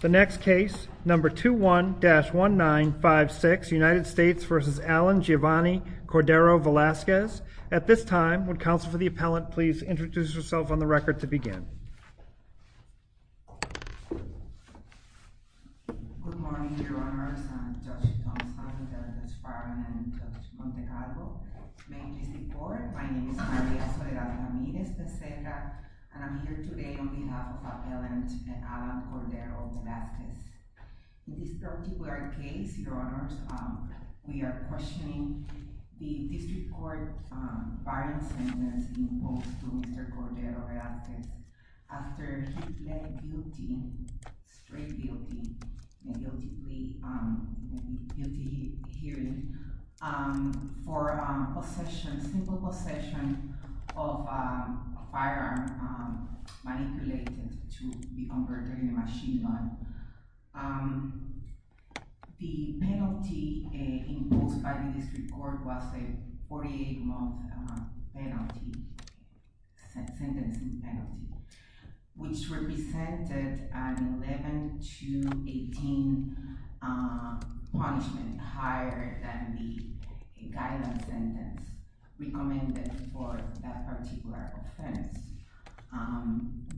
The next case, number 21-1956, United States v. Alan Giovanni Cordero-Velazquez. At this time, would Counsel for the Appellant please introduce herself on the record to begin. Good morning, Your Honors, Judge Thompson, Judge Farron, and Judge Montecarlo. May you please be seated. My name is Maria Soledad Ramirez-Peseca, and I'm here today on behalf of the Appellant, Alan Cordero-Velazquez. In this particular case, Your Honors, we are questioning the District Court firing sentence imposed to Mr. Cordero-Velazquez after he pleaded guilty, straight guilty, a guilty plea, a guilty hearing for possession, simple possession of a firearm manipulated to be converted in a machine gun. The penalty imposed by the District Court was a 48-month penalty, sentencing penalty, which represented an 11 to 18 punishment higher than the guideline sentence recommended for that particular offense.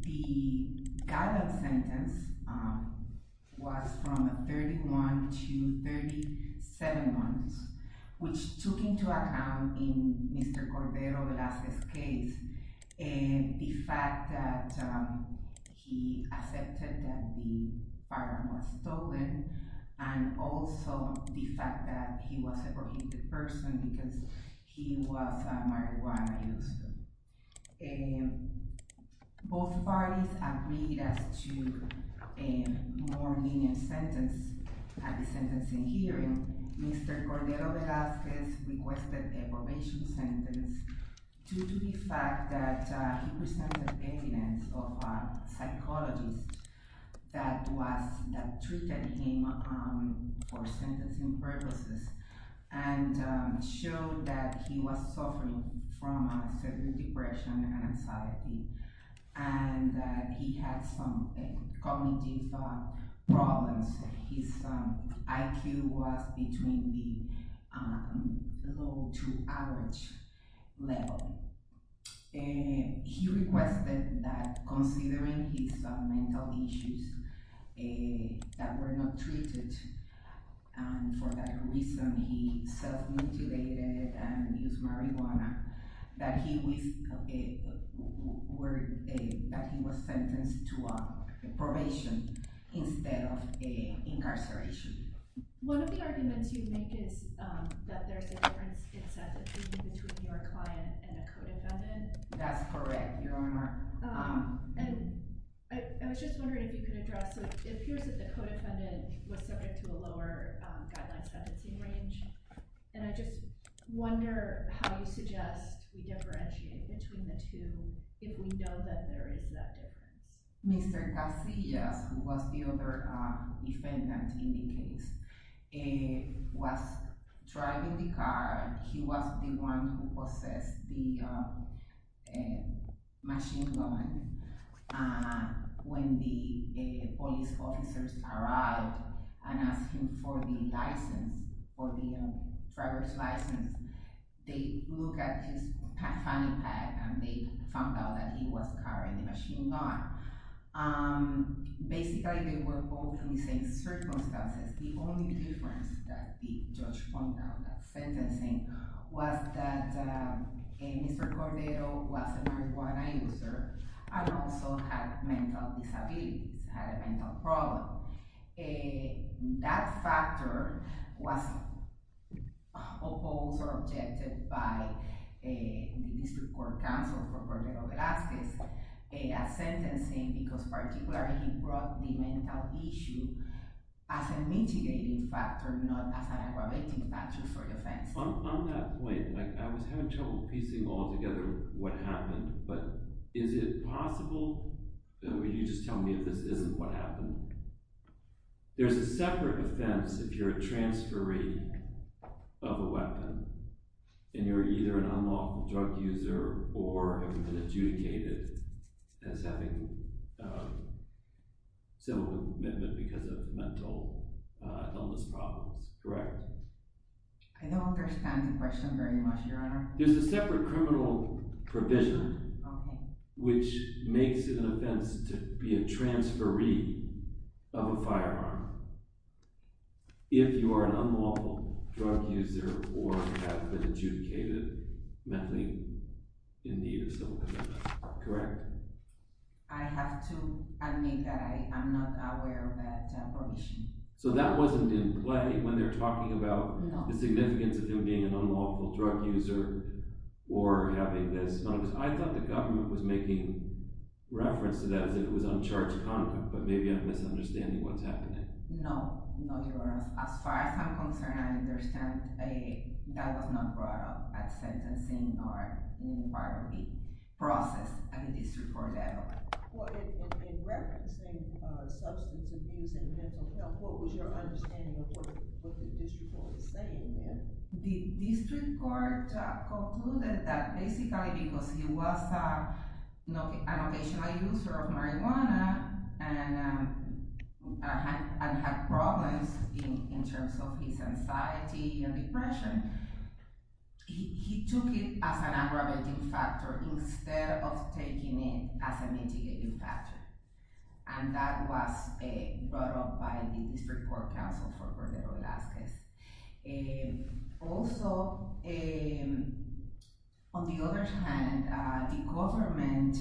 The guideline sentence was from a 31 to 37 months, which took into account in Mr. Cordero-Velazquez's case the fact that he accepted that the firearm was stolen and also the fact that he was a prohibited person because he was a marijuana user. Both parties agreed as to a more lenient sentence at the sentencing hearing. Mr. Cordero-Velazquez requested a probation sentence due to the fact that he presented evidence of a psychologist that treated him for sentencing purposes and showed that he was suffering from a certain depression and anxiety and that he had some cognitive problems. His IQ was between the low to average level. He requested that, considering his mental issues that were not treated, and for that reason he self-mutilated and used marijuana, that he was sentenced to probation instead of incarceration. One of the arguments you make is that there's a difference in sentencing between your client and a co-defendant. That's correct, Your Honor. And I was just wondering if you could address, it appears that the co-defendant was subject to a lower guideline sentencing range, and I just wonder how you suggest we differentiate between the two if we know that there is that difference. Mr. Casillas, who was the other defendant in the case, was driving the car. He was the one who possessed the machine gun. When the police officers arrived and asked him for the driver's license, they looked at his funny pad and they found out that he was carrying the machine gun. Basically, they were both in the same circumstances. The only difference that the judge found out about sentencing was that Mr. Cordero was a marijuana user and also had mental disabilities, had a mental problem. That factor was opposed or objected by the District Court counsel for Cordero Velazquez as sentencing because particularly he brought the mental issue as a mitigating factor, not as aggravating factor for the offense. On that point, I was having trouble piecing all together what happened, but is it possible – will you just tell me if this isn't what happened? There's a separate offense if you're a transferee of a weapon and you're either an unlawful drug user or have been adjudicated as having a civil commitment because of mental illness problems, correct? I don't understand the question very much, Your Honor. There's a separate criminal provision which makes it an offense to be a transferee of a firearm if you are an unlawful drug user or have been adjudicated mentally in need of civil commitment, correct? I have to admit that I'm not aware of that provision. So that wasn't in play when they're talking about the significance of him being an unlawful drug user or having this. I thought the government was making reference to that as if it was uncharged conduct, but maybe I'm misunderstanding what's happening. No, Your Honor. As far as I'm concerned, I understand that was not brought up at sentencing nor in part of the process at the District Court level. In referencing substance abuse and mental health, what was your understanding of what the District Court was saying there? The District Court concluded that basically because he was an occasional user of marijuana and had problems in terms of his anxiety and depression, he took it as an aggravating factor instead of taking it as a mitigating factor, and that was brought up by the District Court counsel for Verde Velazquez. Also, on the other hand, the government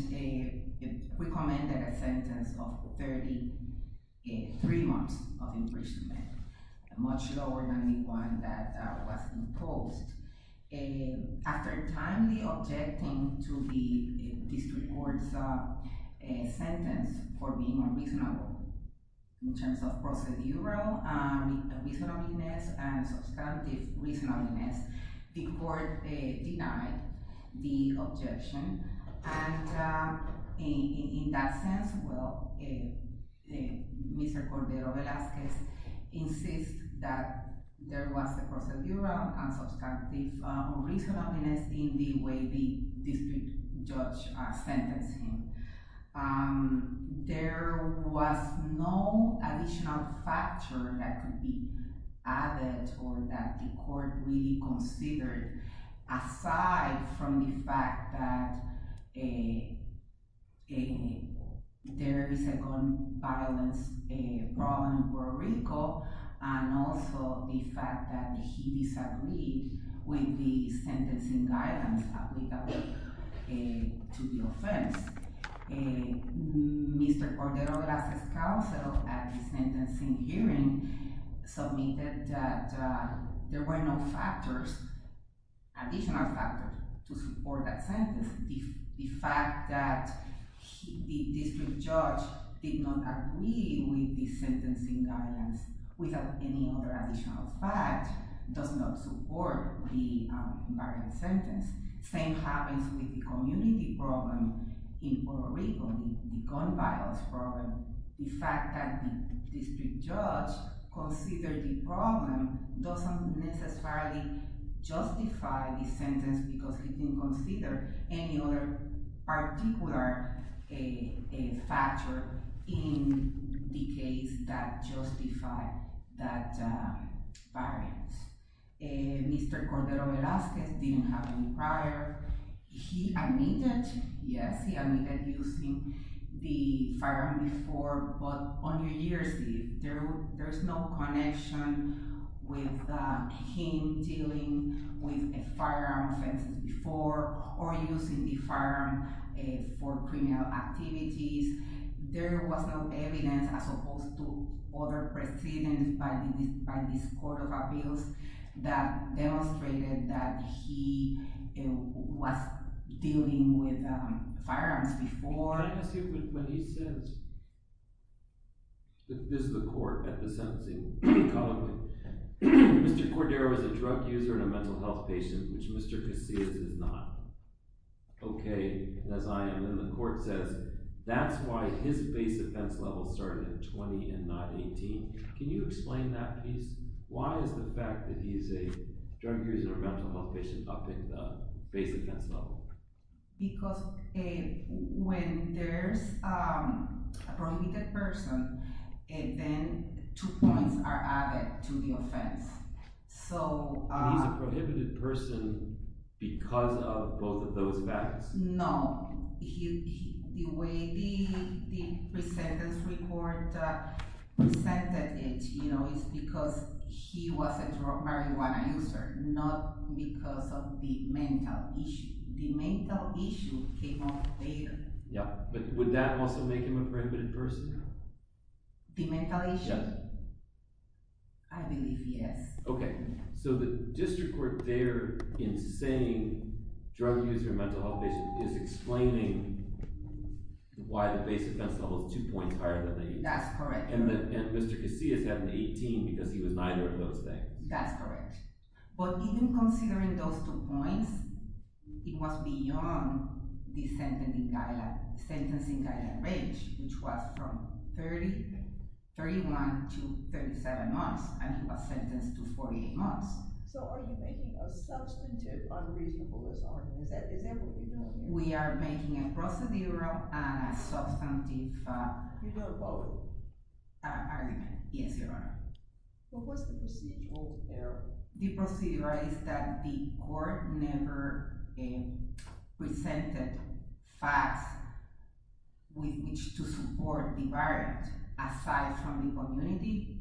recommended a sentence of 33 months of imprisonment, much lower than the one that was imposed. After timely objecting to the District Court's sentence for being unreasonable, in terms of procedural reasonableness and substantive reasonableness, the Court denied the objection. In that sense, Mr. Cordero Velazquez insists that there was a procedural and substantive reasonableness in the way the District Judge sentenced him. There was no additional factor that could be added or that the Court really considered, aside from the fact that there is a gun violence problem in Puerto Rico and also the fact that he disagreed with the sentencing guidance applicable to the offense. Mr. Cordero Velazquez's counsel, at the sentencing hearing, submitted that there were no additional factors to support that sentence. The fact that the District Judge did not agree with the sentencing guidance without any other additional fact does not support the invariant sentence. The same happens with the community problem in Puerto Rico, the gun violence problem. The fact that the District Judge considered the problem doesn't necessarily justify the sentence because he didn't consider any other particular factor in the case that justified that variance. Mr. Cordero Velazquez didn't have any prior. He admitted using the firearm before, but on New Year's Eve, there is no connection with him dealing with a firearm offense before or using the firearm for criminal activities. There was no evidence, as opposed to other precedents by this Court of Appeals, that demonstrated that he was dealing with firearms before. When he says, this is the Court at the sentencing, Mr. Cordero is a drug user and a mental health patient, which Mr. Casillas is not. Okay, as I am. Then the Court says that's why his base offense level started at 20 and not 18. Can you explain that, please? Why is the fact that he's a drug user and a mental health patient up in the base offense level? Because when there's a prohibited person, then two points are added to the offense. He's a prohibited person because of both of those facts? No. The way the presentence report presented it, it's because he was a drug, marijuana user, not because of the mental issue. The mental issue came up later. Would that also make him a prohibited person? The mental issue? Yes. I believe yes. Okay, so the District Court there, in saying drug user and mental health patient, is explaining why the base offense level is two points higher than the 18. That's correct. And Mr. Casillas had an 18 because he was neither of those things. That's correct. But even considering those two points, it was beyond the sentence in Kaila Ridge, which was from 31 to 37 months, and he was sentenced to 48 months. So are you making a substantive unreasonable argument? Is that what you're doing here? We are making a procedural and a substantive argument. Yes, Your Honor. What's the procedural there? The procedural is that the court never presented facts with which to support the violence, aside from the community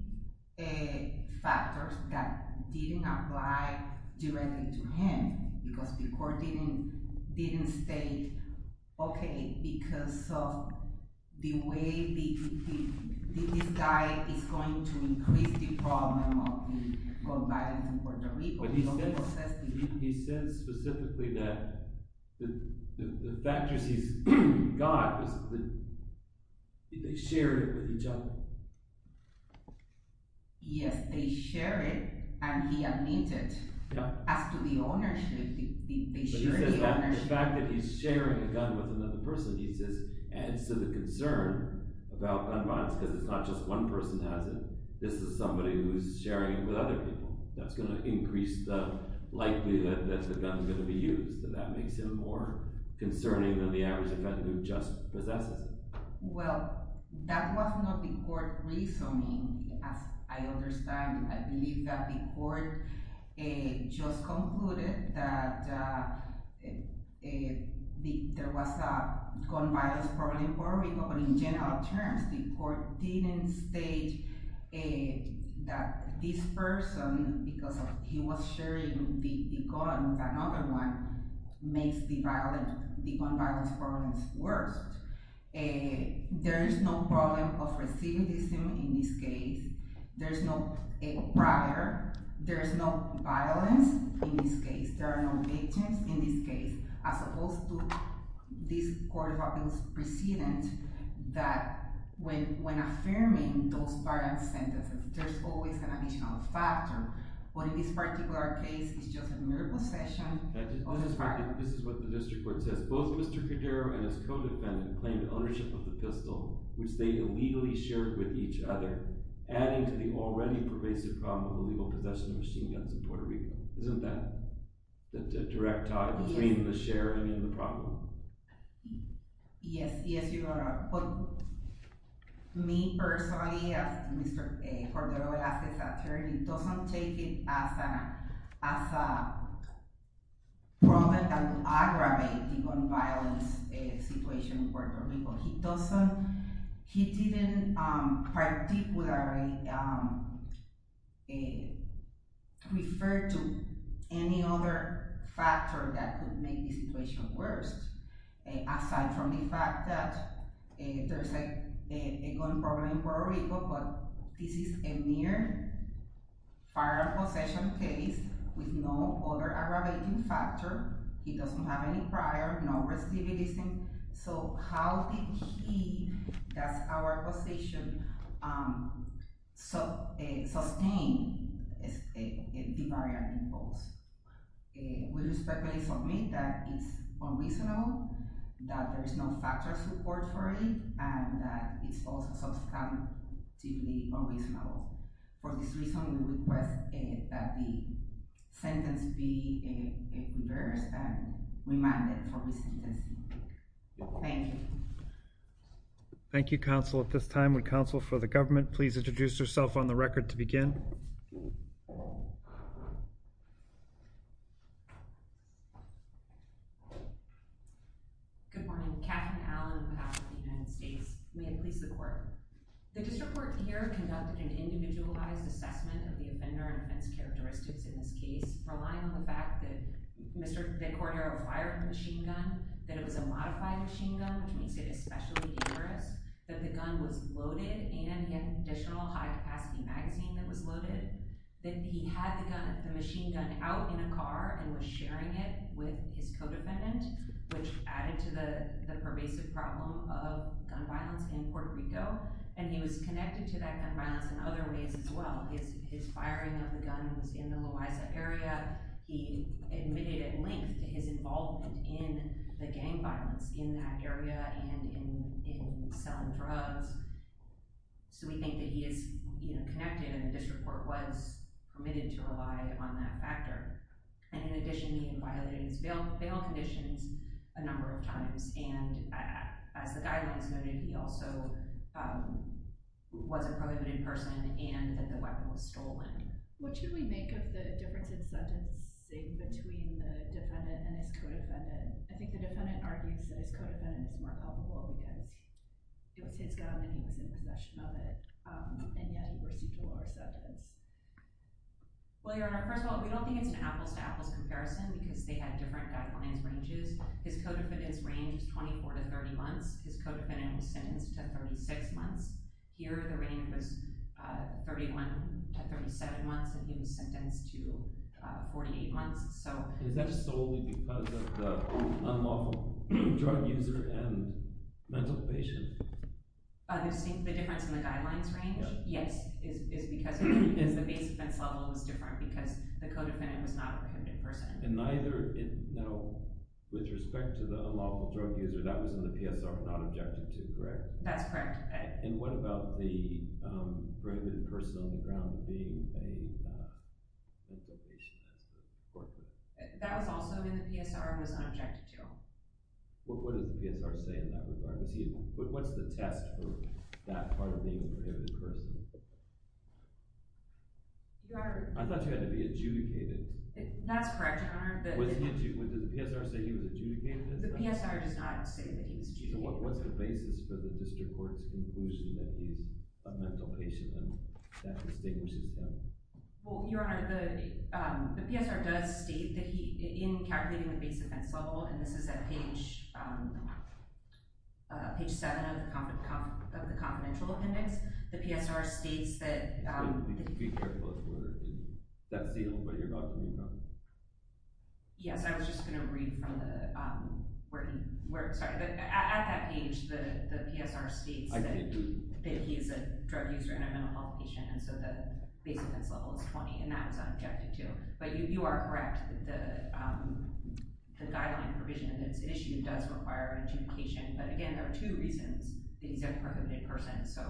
factors that didn't apply directly to him, because the court didn't state, okay, because of the way this guy is going to increase the problem of violence in Puerto Rico. But he said specifically that the factors he's got, they shared it with each other. Yes, they shared it, and he admitted as to the ownership. They shared the ownership. The fact that he's sharing a gun with another person, he says, adds to the concern about gun violence, because it's not just one person has it. This is somebody who's sharing it with other people. That's going to increase the likelihood that the gun is going to be used, and that makes him more concerning than the average defendant who just possesses it. Well, that was not the court reasoning, as I understand. I believe that the court just concluded that there was a gun violence problem in Puerto Rico, but in general terms, the court didn't state that this person, because he was sharing the gun with another one, makes the gun violence problems worse. There is no problem of recidivism in this case. There is no prior. There is no violence in this case. There are no agents in this case, as opposed to this court of appeals precedent that when affirming those violent sentences, there's always an additional factor. But in this particular case, it's just a mere possession. This is what the district court says. Both Mr. Cordero and his co-defendant claimed ownership of the pistol, which they illegally shared with each other, adding to the already pervasive problem of illegal possession of machine guns in Puerto Rico. Isn't that the direct tie between the sharing and the problem? Yes, yes. Me personally, as Mr. Cordero says, he doesn't take it as an aggravating gun violence situation in Puerto Rico. He didn't particularly refer to any other factor that could make the situation worse, aside from the fact that there's a gun problem in Puerto Rico, but this is a mere firearm possession case with no other aggravating factor. He doesn't have any prior, no recidivism. So how did he, that's our position, sustain the barrier imposed? We respectfully submit that it's unreasonable, that there is no factual support for it, and that it's also substantively unreasonable. For this reason, we request that the sentence be reversed and remanded for resentencing. Thank you, counsel. At this time, would counsel for the government please introduce herself on the record to begin? Good morning. Katherine Allen, with Office of the United States. May it please the court. The district court here conducted an individualized assessment of the offender and offense characteristics in this case, relying on the fact that Mr. Cordero fired the machine gun, that it was a modified machine gun, which makes it especially dangerous, that the gun was loaded, and he had an additional high-capacity magazine that was loaded, that he had the machine gun out in a car and was sharing it with his co-defendant, which added to the pervasive problem of gun violence in Puerto Rico, and he was connected to that gun violence in other ways as well. His firing of the gun was in the Loaiza area. He admitted at length to his involvement in the gang violence in that area and in selling drugs, so we think that he is connected and the district court was permitted to rely on that factor. In addition, he had violated his bail conditions a number of times, and as the guidelines noted, he also was a prohibited person and that the weapon was stolen. What should we make of the difference in sentencing between the defendant and his co-defendant? I think the defendant argues that his co-defendant is more culpable because it was his gun and he was in possession of it, and yet he received a lower sentence. Well, Your Honor, first of all, we don't think it's an apples-to-apples comparison because they had different guidelines ranges. His co-defendant's range was 24 to 30 months. His co-defendant was sentenced to 36 months. Here, the range was 31 to 37 months, and he was sentenced to 48 months. Is that solely because of the unlawful drug user and mental patient? The difference in the guidelines range? Yes. It's because the base offense level is different because the co-defendant was not a prohibited person. And neither, you know, with respect to the unlawful drug user, that was in the PSR, not Objection 2, correct? That's correct. And what about the prohibited person on the ground being a mental patient? That was also in the PSR and was not Objection 2. What did the PSR say in that regard? What's the test for that part of being a prohibited person? I thought you had to be adjudicated. That's correct, Your Honor. Would the PSR say he was adjudicated? The PSR does not say that he was adjudicated. So what's the basis for the district court's conclusion that he's a mental patient and that distinguishes them? Well, Your Honor, the PSR does state that he, in calculating the base offense level, and this is at page 7 of the confidential appendix, the PSR states that— Be careful with that seal, but you're talking about— Yes, I was just going to read from the— Sorry, but at that page, the PSR states that he is a drug user and a mental health patient, and so the base offense level is 20, and that was Objection 2. But you are correct that the guideline provision in this issue does require adjudication. But again, there are two reasons that he's a prohibited person. So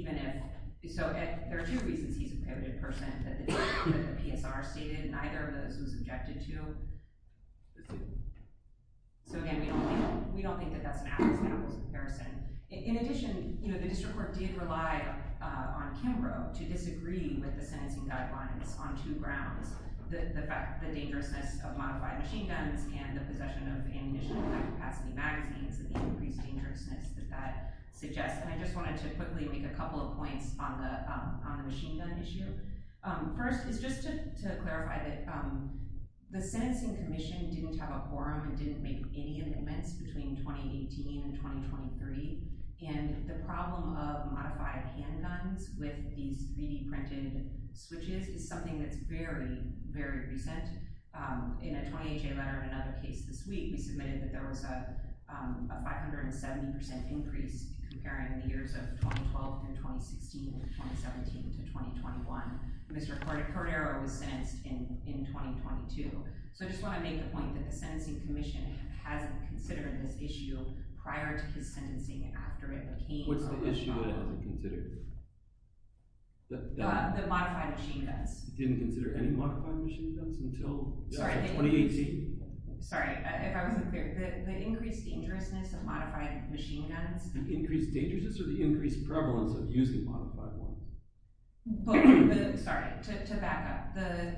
there are two reasons he's a prohibited person that the PSR stated, and neither of those was objected to. So again, we don't think that that's an apples-to-apples comparison. In addition, the district court did rely on Kimbrough to disagree with the sentencing guidelines on two grounds, the fact that the dangerousness of modified machine guns and the possession of ammunition in high-capacity magazines, and the increased dangerousness that that suggests. And I just wanted to quickly make a couple of points on the machine gun issue. First is just to clarify that the sentencing commission didn't have a forum and didn't make any amendments between 2018 and 2023, and the problem of modified handguns with these 3D-printed switches is something that's very, very recent. In a 20HA letter in another case this week, we submitted that there was a 570% increase comparing the years of 2012 through 2016, and 2017 to 2021. Mr. Cordero was sentenced in 2022. So I just want to make the point that the sentencing commission hasn't considered this issue prior to his sentencing, after it became a reform. What's the issue it hasn't considered? The modified machine guns. It didn't consider any modified machine guns until 2018? Sorry, if I wasn't clear, the increased dangerousness of modified machine guns. The increased dangerousness or the increased prevalence of using modified ones? Sorry, to back up, the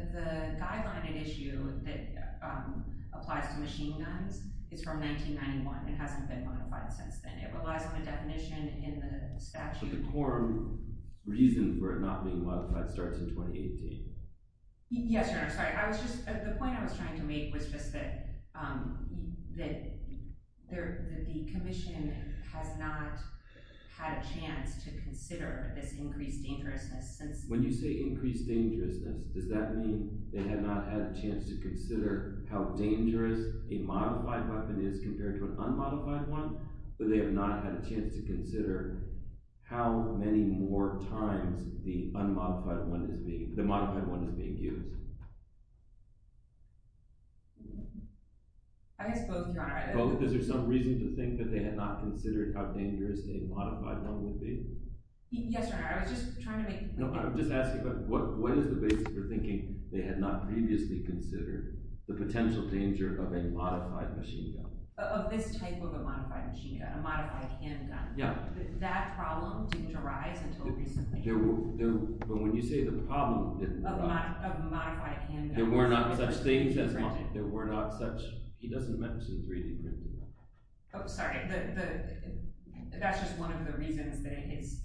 guideline and issue that applies to machine guns is from 1991. It hasn't been modified since then. It relies on the definition in the statute. But the core reason for it not being modified starts in 2018. Yes, Your Honor, sorry. The point I was trying to make was just that the commission has not had a chance to consider this increased dangerousness. When you say increased dangerousness, does that mean they have not had a chance to consider how dangerous a modified weapon is compared to an unmodified one, or they have not had a chance to consider how many more times the unmodified one is being used? I guess both, Your Honor. Both? Is there some reason to think that they have not considered how dangerous a modified gun would be? Yes, Your Honor, I was just trying to make... No, I'm just asking about what is the basis for thinking they had not previously considered the potential danger of a modified machine gun? Of this type of a modified machine gun, a modified handgun. Yeah. That problem didn't arise until recently. But when you say the problem didn't arise... Of a modified handgun... There were not such things as... Correct. There were not such... He doesn't mention 3D printing. Oh, sorry. That's just one of the reasons that it has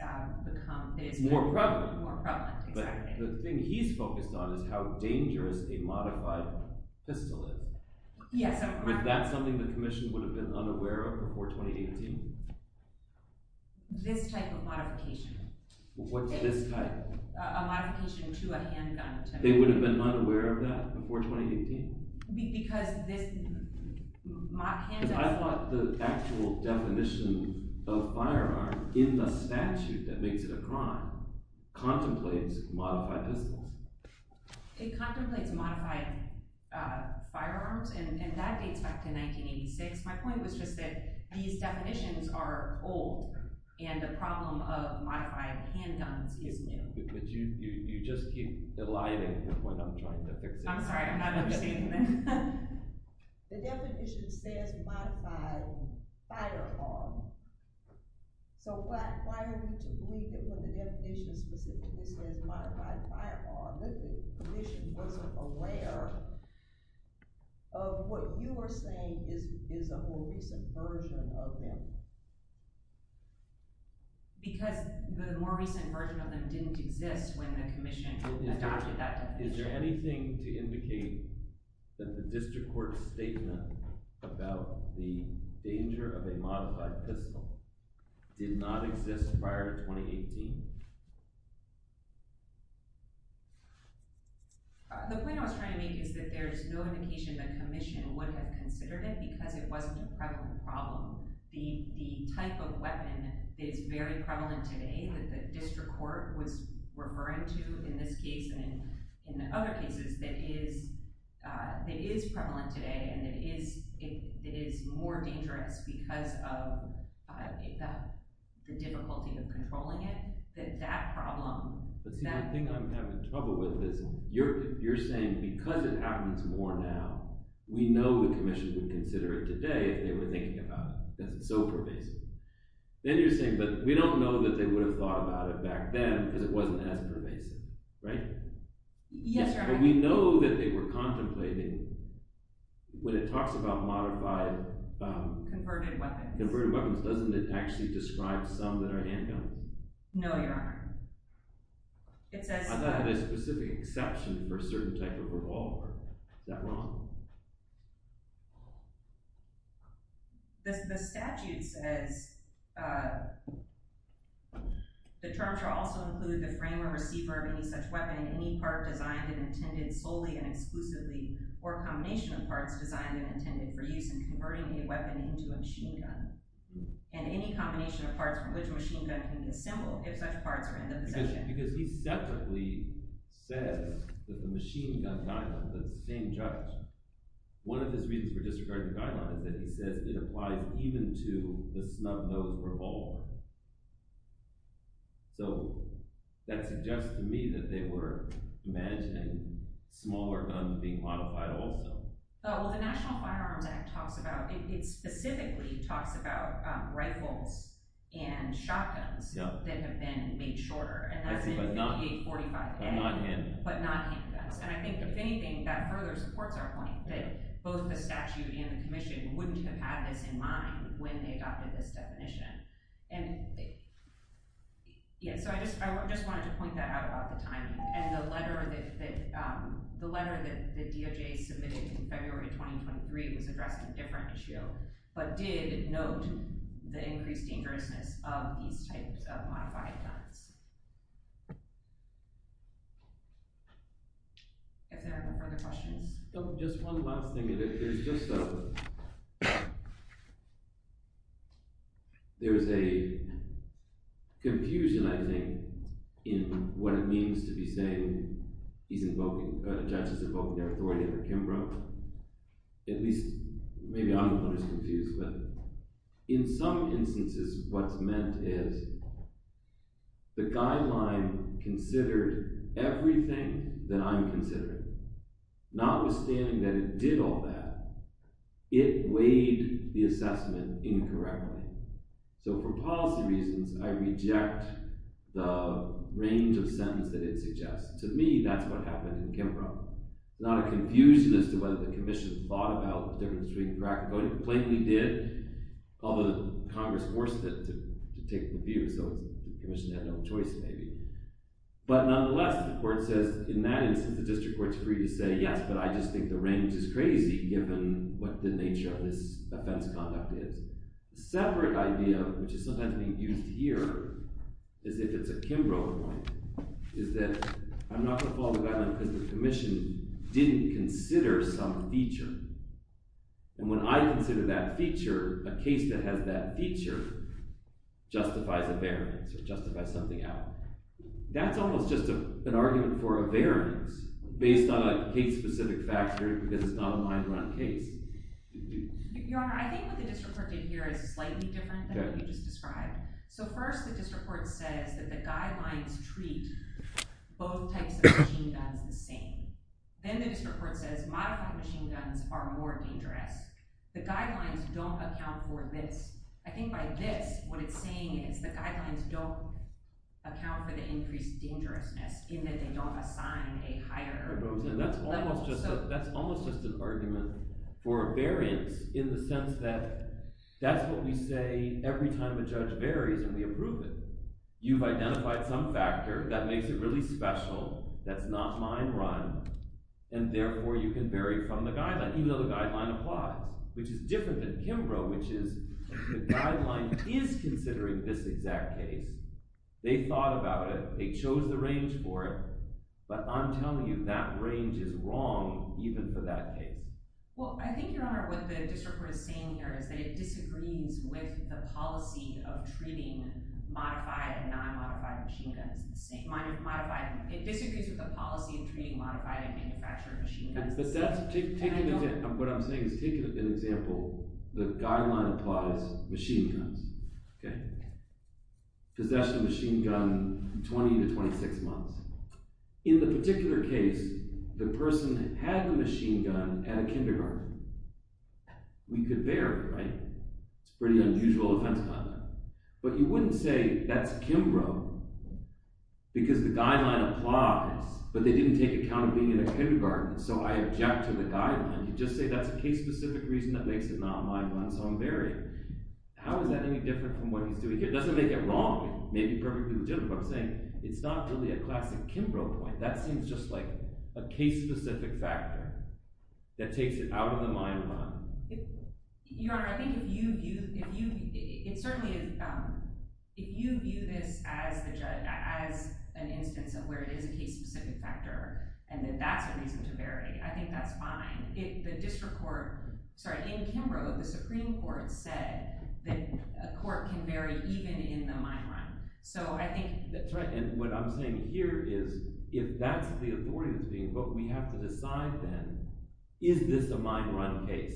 become... More prevalent. More prevalent, exactly. But the thing he's focused on is how dangerous a modified pistol is. Yes, Your Honor. But that's something the Commission would have been unaware of before 2018? This type of modification. What's this type? A modification to a handgun. They would have been unaware of that before 2018? Because this handgun... But I thought the actual definition of firearm in the statute that makes it a crime contemplates modified pistols. It contemplates modified firearms, and that dates back to 1986. My point was just that these definitions are old, and the problem of modified handguns is new. But you just keep eliding me when I'm trying to fix it. I'm sorry. I'm not understanding that. The definition says modified firearm. So why are you to believe that when the definition specifically says modified firearm that the Commission wasn't aware of what you are saying is a more recent version of them? Because the more recent version of them didn't exist when the Commission adopted that definition. Is there anything to indicate that the District Court's statement about the danger of a modified pistol did not exist prior to 2018? The point I was trying to make is that there's no indication the Commission would have considered it because it wasn't a prevalent problem. The type of weapon that is very prevalent today that the District Court was referring to in this case and in other cases that is prevalent today, and that is more dangerous because of the difficulty of controlling it, that that problem... But see, the thing I'm having trouble with is you're saying because it happens more now, we know the Commission would consider it today if they were thinking about it because it's so pervasive. Then you're saying, but we don't know that they would have thought about it back then because it wasn't as pervasive, right? Yes, Your Honor. We know that they were contemplating when it talks about modified... Converted weapons. Converted weapons. Doesn't it actually describe some that are handguns? No, Your Honor. I thought it had a specific exception for a certain type of revolver. Is that wrong? The statute says, The terms should also include the frame or receiver of any such weapon, any part designed and intended solely and exclusively, or a combination of parts designed and intended for use in converting a weapon into a machine gun, and any combination of parts from which a machine gun can be assembled, if such parts are in the possession. Because he separately says that the machine gun guideline, the same judge, one of his reasons for disregarding the guideline is that he says it applies even to the snug nose revolver. So, that suggests to me that they were imagining smaller guns being modified also. Oh, well the National Firearms Act talks about, it specifically talks about rifles and shotguns that have been made shorter, and that's in 5845. But not handguns. And I think, if anything, that further supports our point that both the statute and the commission wouldn't have had this in mind when they adopted this definition. And, yeah, so I just wanted to point that out about the timing. And the letter that DOJ submitted in February of 2023 was addressing a different issue, but did note the increased dangerousness of these types of modified guns. If there are no further questions. Just one last thing. There's just a, there's a confusion, I think, in what it means to be saying he's invoking, the judge has invoked the authority of the Kimbrough. At least, maybe I'm the one who's confused. In some instances, what's meant is the guideline considered everything that I'm considering. Notwithstanding that it did all that, it weighed the assessment incorrectly. So, for policy reasons, I reject the range of sentence that it suggests. To me, that's what happened in Kimbrough. Not a confusion as to whether the commission thought about the difference between crack voting. Plainly did, although Congress forced it to take the view. So, the commission had no choice, maybe. But, nonetheless, the court says, in that instance, the district court's free to say, yes, but I just think the range is crazy, given what the nature of this offense conduct is. A separate idea, which is sometimes being used here, as if it's a Kimbrough complaint, is that I'm not going to follow the guideline because the commission didn't consider some feature. And when I consider that feature, a case that has that feature justifies a variance, or justifies something else. That's almost just an argument for a variance, based on a case-specific factor, because it's not a mind-run case. Your Honor, I think what the district court did here is slightly different than what you just described. So first, the district court says that the guidelines treat both types of machine guns the same. Then the district court says modified machine guns are more dangerous. The guidelines don't account for this. I think by this, what it's saying is the guidelines don't account for the increased dangerousness, in that they don't assign a higher level. That's almost just an argument for a variance, in the sense that that's what we say every time a judge varies in the improvement. You've identified some factor that makes it really special that's not mind-run, and therefore you can vary from the guideline, even though the guideline applies, which is different than Kimbrough, which is the guideline is considering this exact case. They thought about it. They chose the range for it. But I'm telling you that range is wrong, even for that case. Well, I think, Your Honor, what the district court is saying here is that it disagrees with the policy of treating modified and non-modified machine guns the same. It disagrees with the policy of treating modified and manufactured machine guns the same. But what I'm saying is, take an example. The guideline applies machine guns. Possession of a machine gun, 20 to 26 months. In the particular case, the person had the machine gun at a kindergarten. We could vary, right? It's a pretty unusual offense by them. But you wouldn't say that's Kimbrough because the guideline applies, but they didn't take account of being in a kindergarten, so I object to the guideline. You just say that's a case-specific reason that makes it not mind-run, so I'm varying. How is that any different from what he's doing here? It doesn't make it wrong. It may be perfectly legitimate. But I'm saying it's not really a classic Kimbrough point. That seems just like a case-specific factor that takes it out of the mind-run. Your Honor, I think if you view this as an instance of where it is a case-specific factor and that that's a reason to vary, I think that's fine. In Kimbrough, the Supreme Court said that a court can vary even in the mind-run. That's right, and what I'm saying here is if that's the authority that's being invoked, we have to decide then, is this a mind-run case?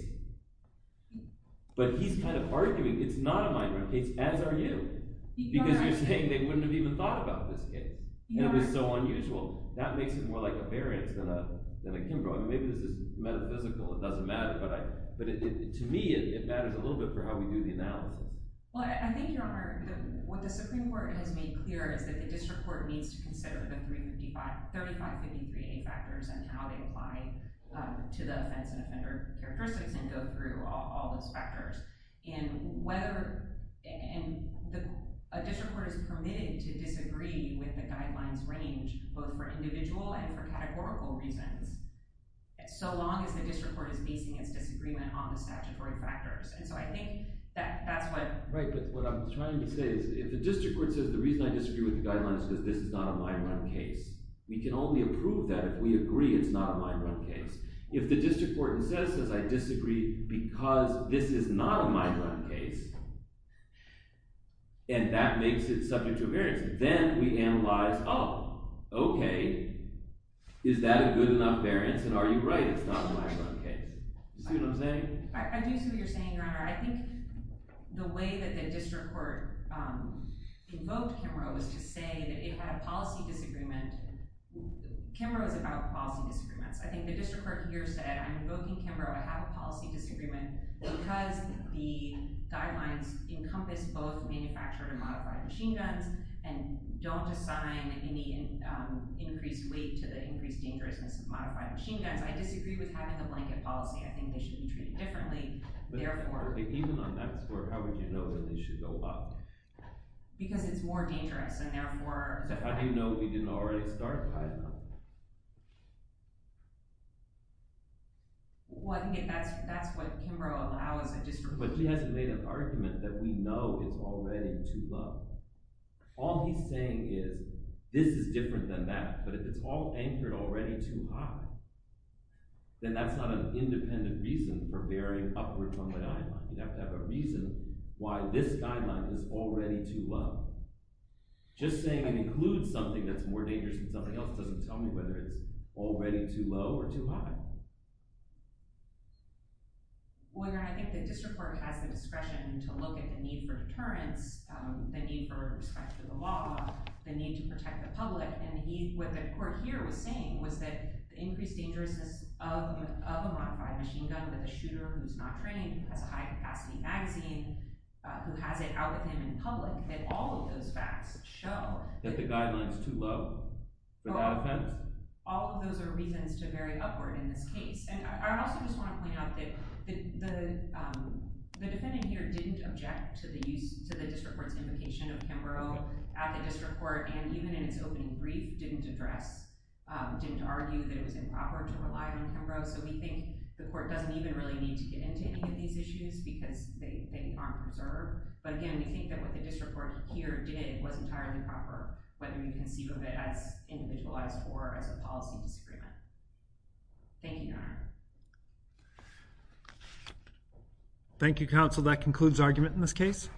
But he's kind of arguing it's not a mind-run case, as are you, because you're saying they wouldn't have even thought about this case, and it was so unusual. That makes it more like a variance than a Kimbrough. Maybe this is metaphysical. It doesn't matter. But to me, it matters a little bit for how we do the analysis. Well, I think, Your Honor, what the Supreme Court has made clear is that the district court needs to consider the 3553A factors and how they apply to the offense and offender characteristics and go through all those factors. And a district court is permitted to disagree with the guidelines range, both for individual and for categorical reasons, so long as the district court is basing its disagreement on the statutory factors. Right, but what I'm trying to say is if the district court says the reason I disagree with the guidelines is because this is not a mind-run case, we can only approve that if we agree it's not a mind-run case. If the district court says I disagree because this is not a mind-run case, and that makes it subject to a variance, then we analyze, oh, okay, is that a good enough variance, and are you right it's not a mind-run case? Do you see what I'm saying? I do see what you're saying, Your Honor. I think the way that the district court invoked Kimbrough was to say that it had a policy disagreement. Kimbrough is about policy disagreements. I think the district court here said I'm invoking Kimbrough. I have a policy disagreement because the guidelines encompass both manufactured and modified machine guns and don't assign any increased weight to the increased dangerousness of modified machine guns. I disagree with having a blanket policy. I think they should be treated differently. Even on that score, how would you know when they should go up? Because it's more dangerous, and therefore— So how do you know if we didn't already start high enough? That's what Kimbrough allows a district court to do. But he hasn't made an argument that we know it's already too low. All he's saying is this is different than that, but if it's all anchored already too high, then that's not an independent reason for bearing upward from the guideline. You'd have to have a reason why this guideline is already too low. Just saying it includes something that's more dangerous than something else doesn't tell me whether it's already too low or too high. Well, Your Honor, I think the district court has the discretion to look at the need for deterrence, the need for respect to the law, the need to protect the public. And what the court here was saying was that the increased dangerousness of a modified machine gun with a shooter who's not trained, who has a high-capacity magazine, who has it out with him in public, that all of those facts show— That the guideline's too low without offense? All of those are reasons to bear upward in this case. And I also just want to point out that the defendant here didn't object to the district court's invocation of Kimbrough at the district court, and even in its opening brief didn't argue that it was improper to rely on Kimbrough. So we think the court doesn't even really need to get into any of these issues because they aren't preserved. But again, we think that what the district court here did was entirely proper, whether you conceive of it as individualized or as a policy disagreement. Thank you, Your Honor. Thank you, counsel. That concludes argument in this case.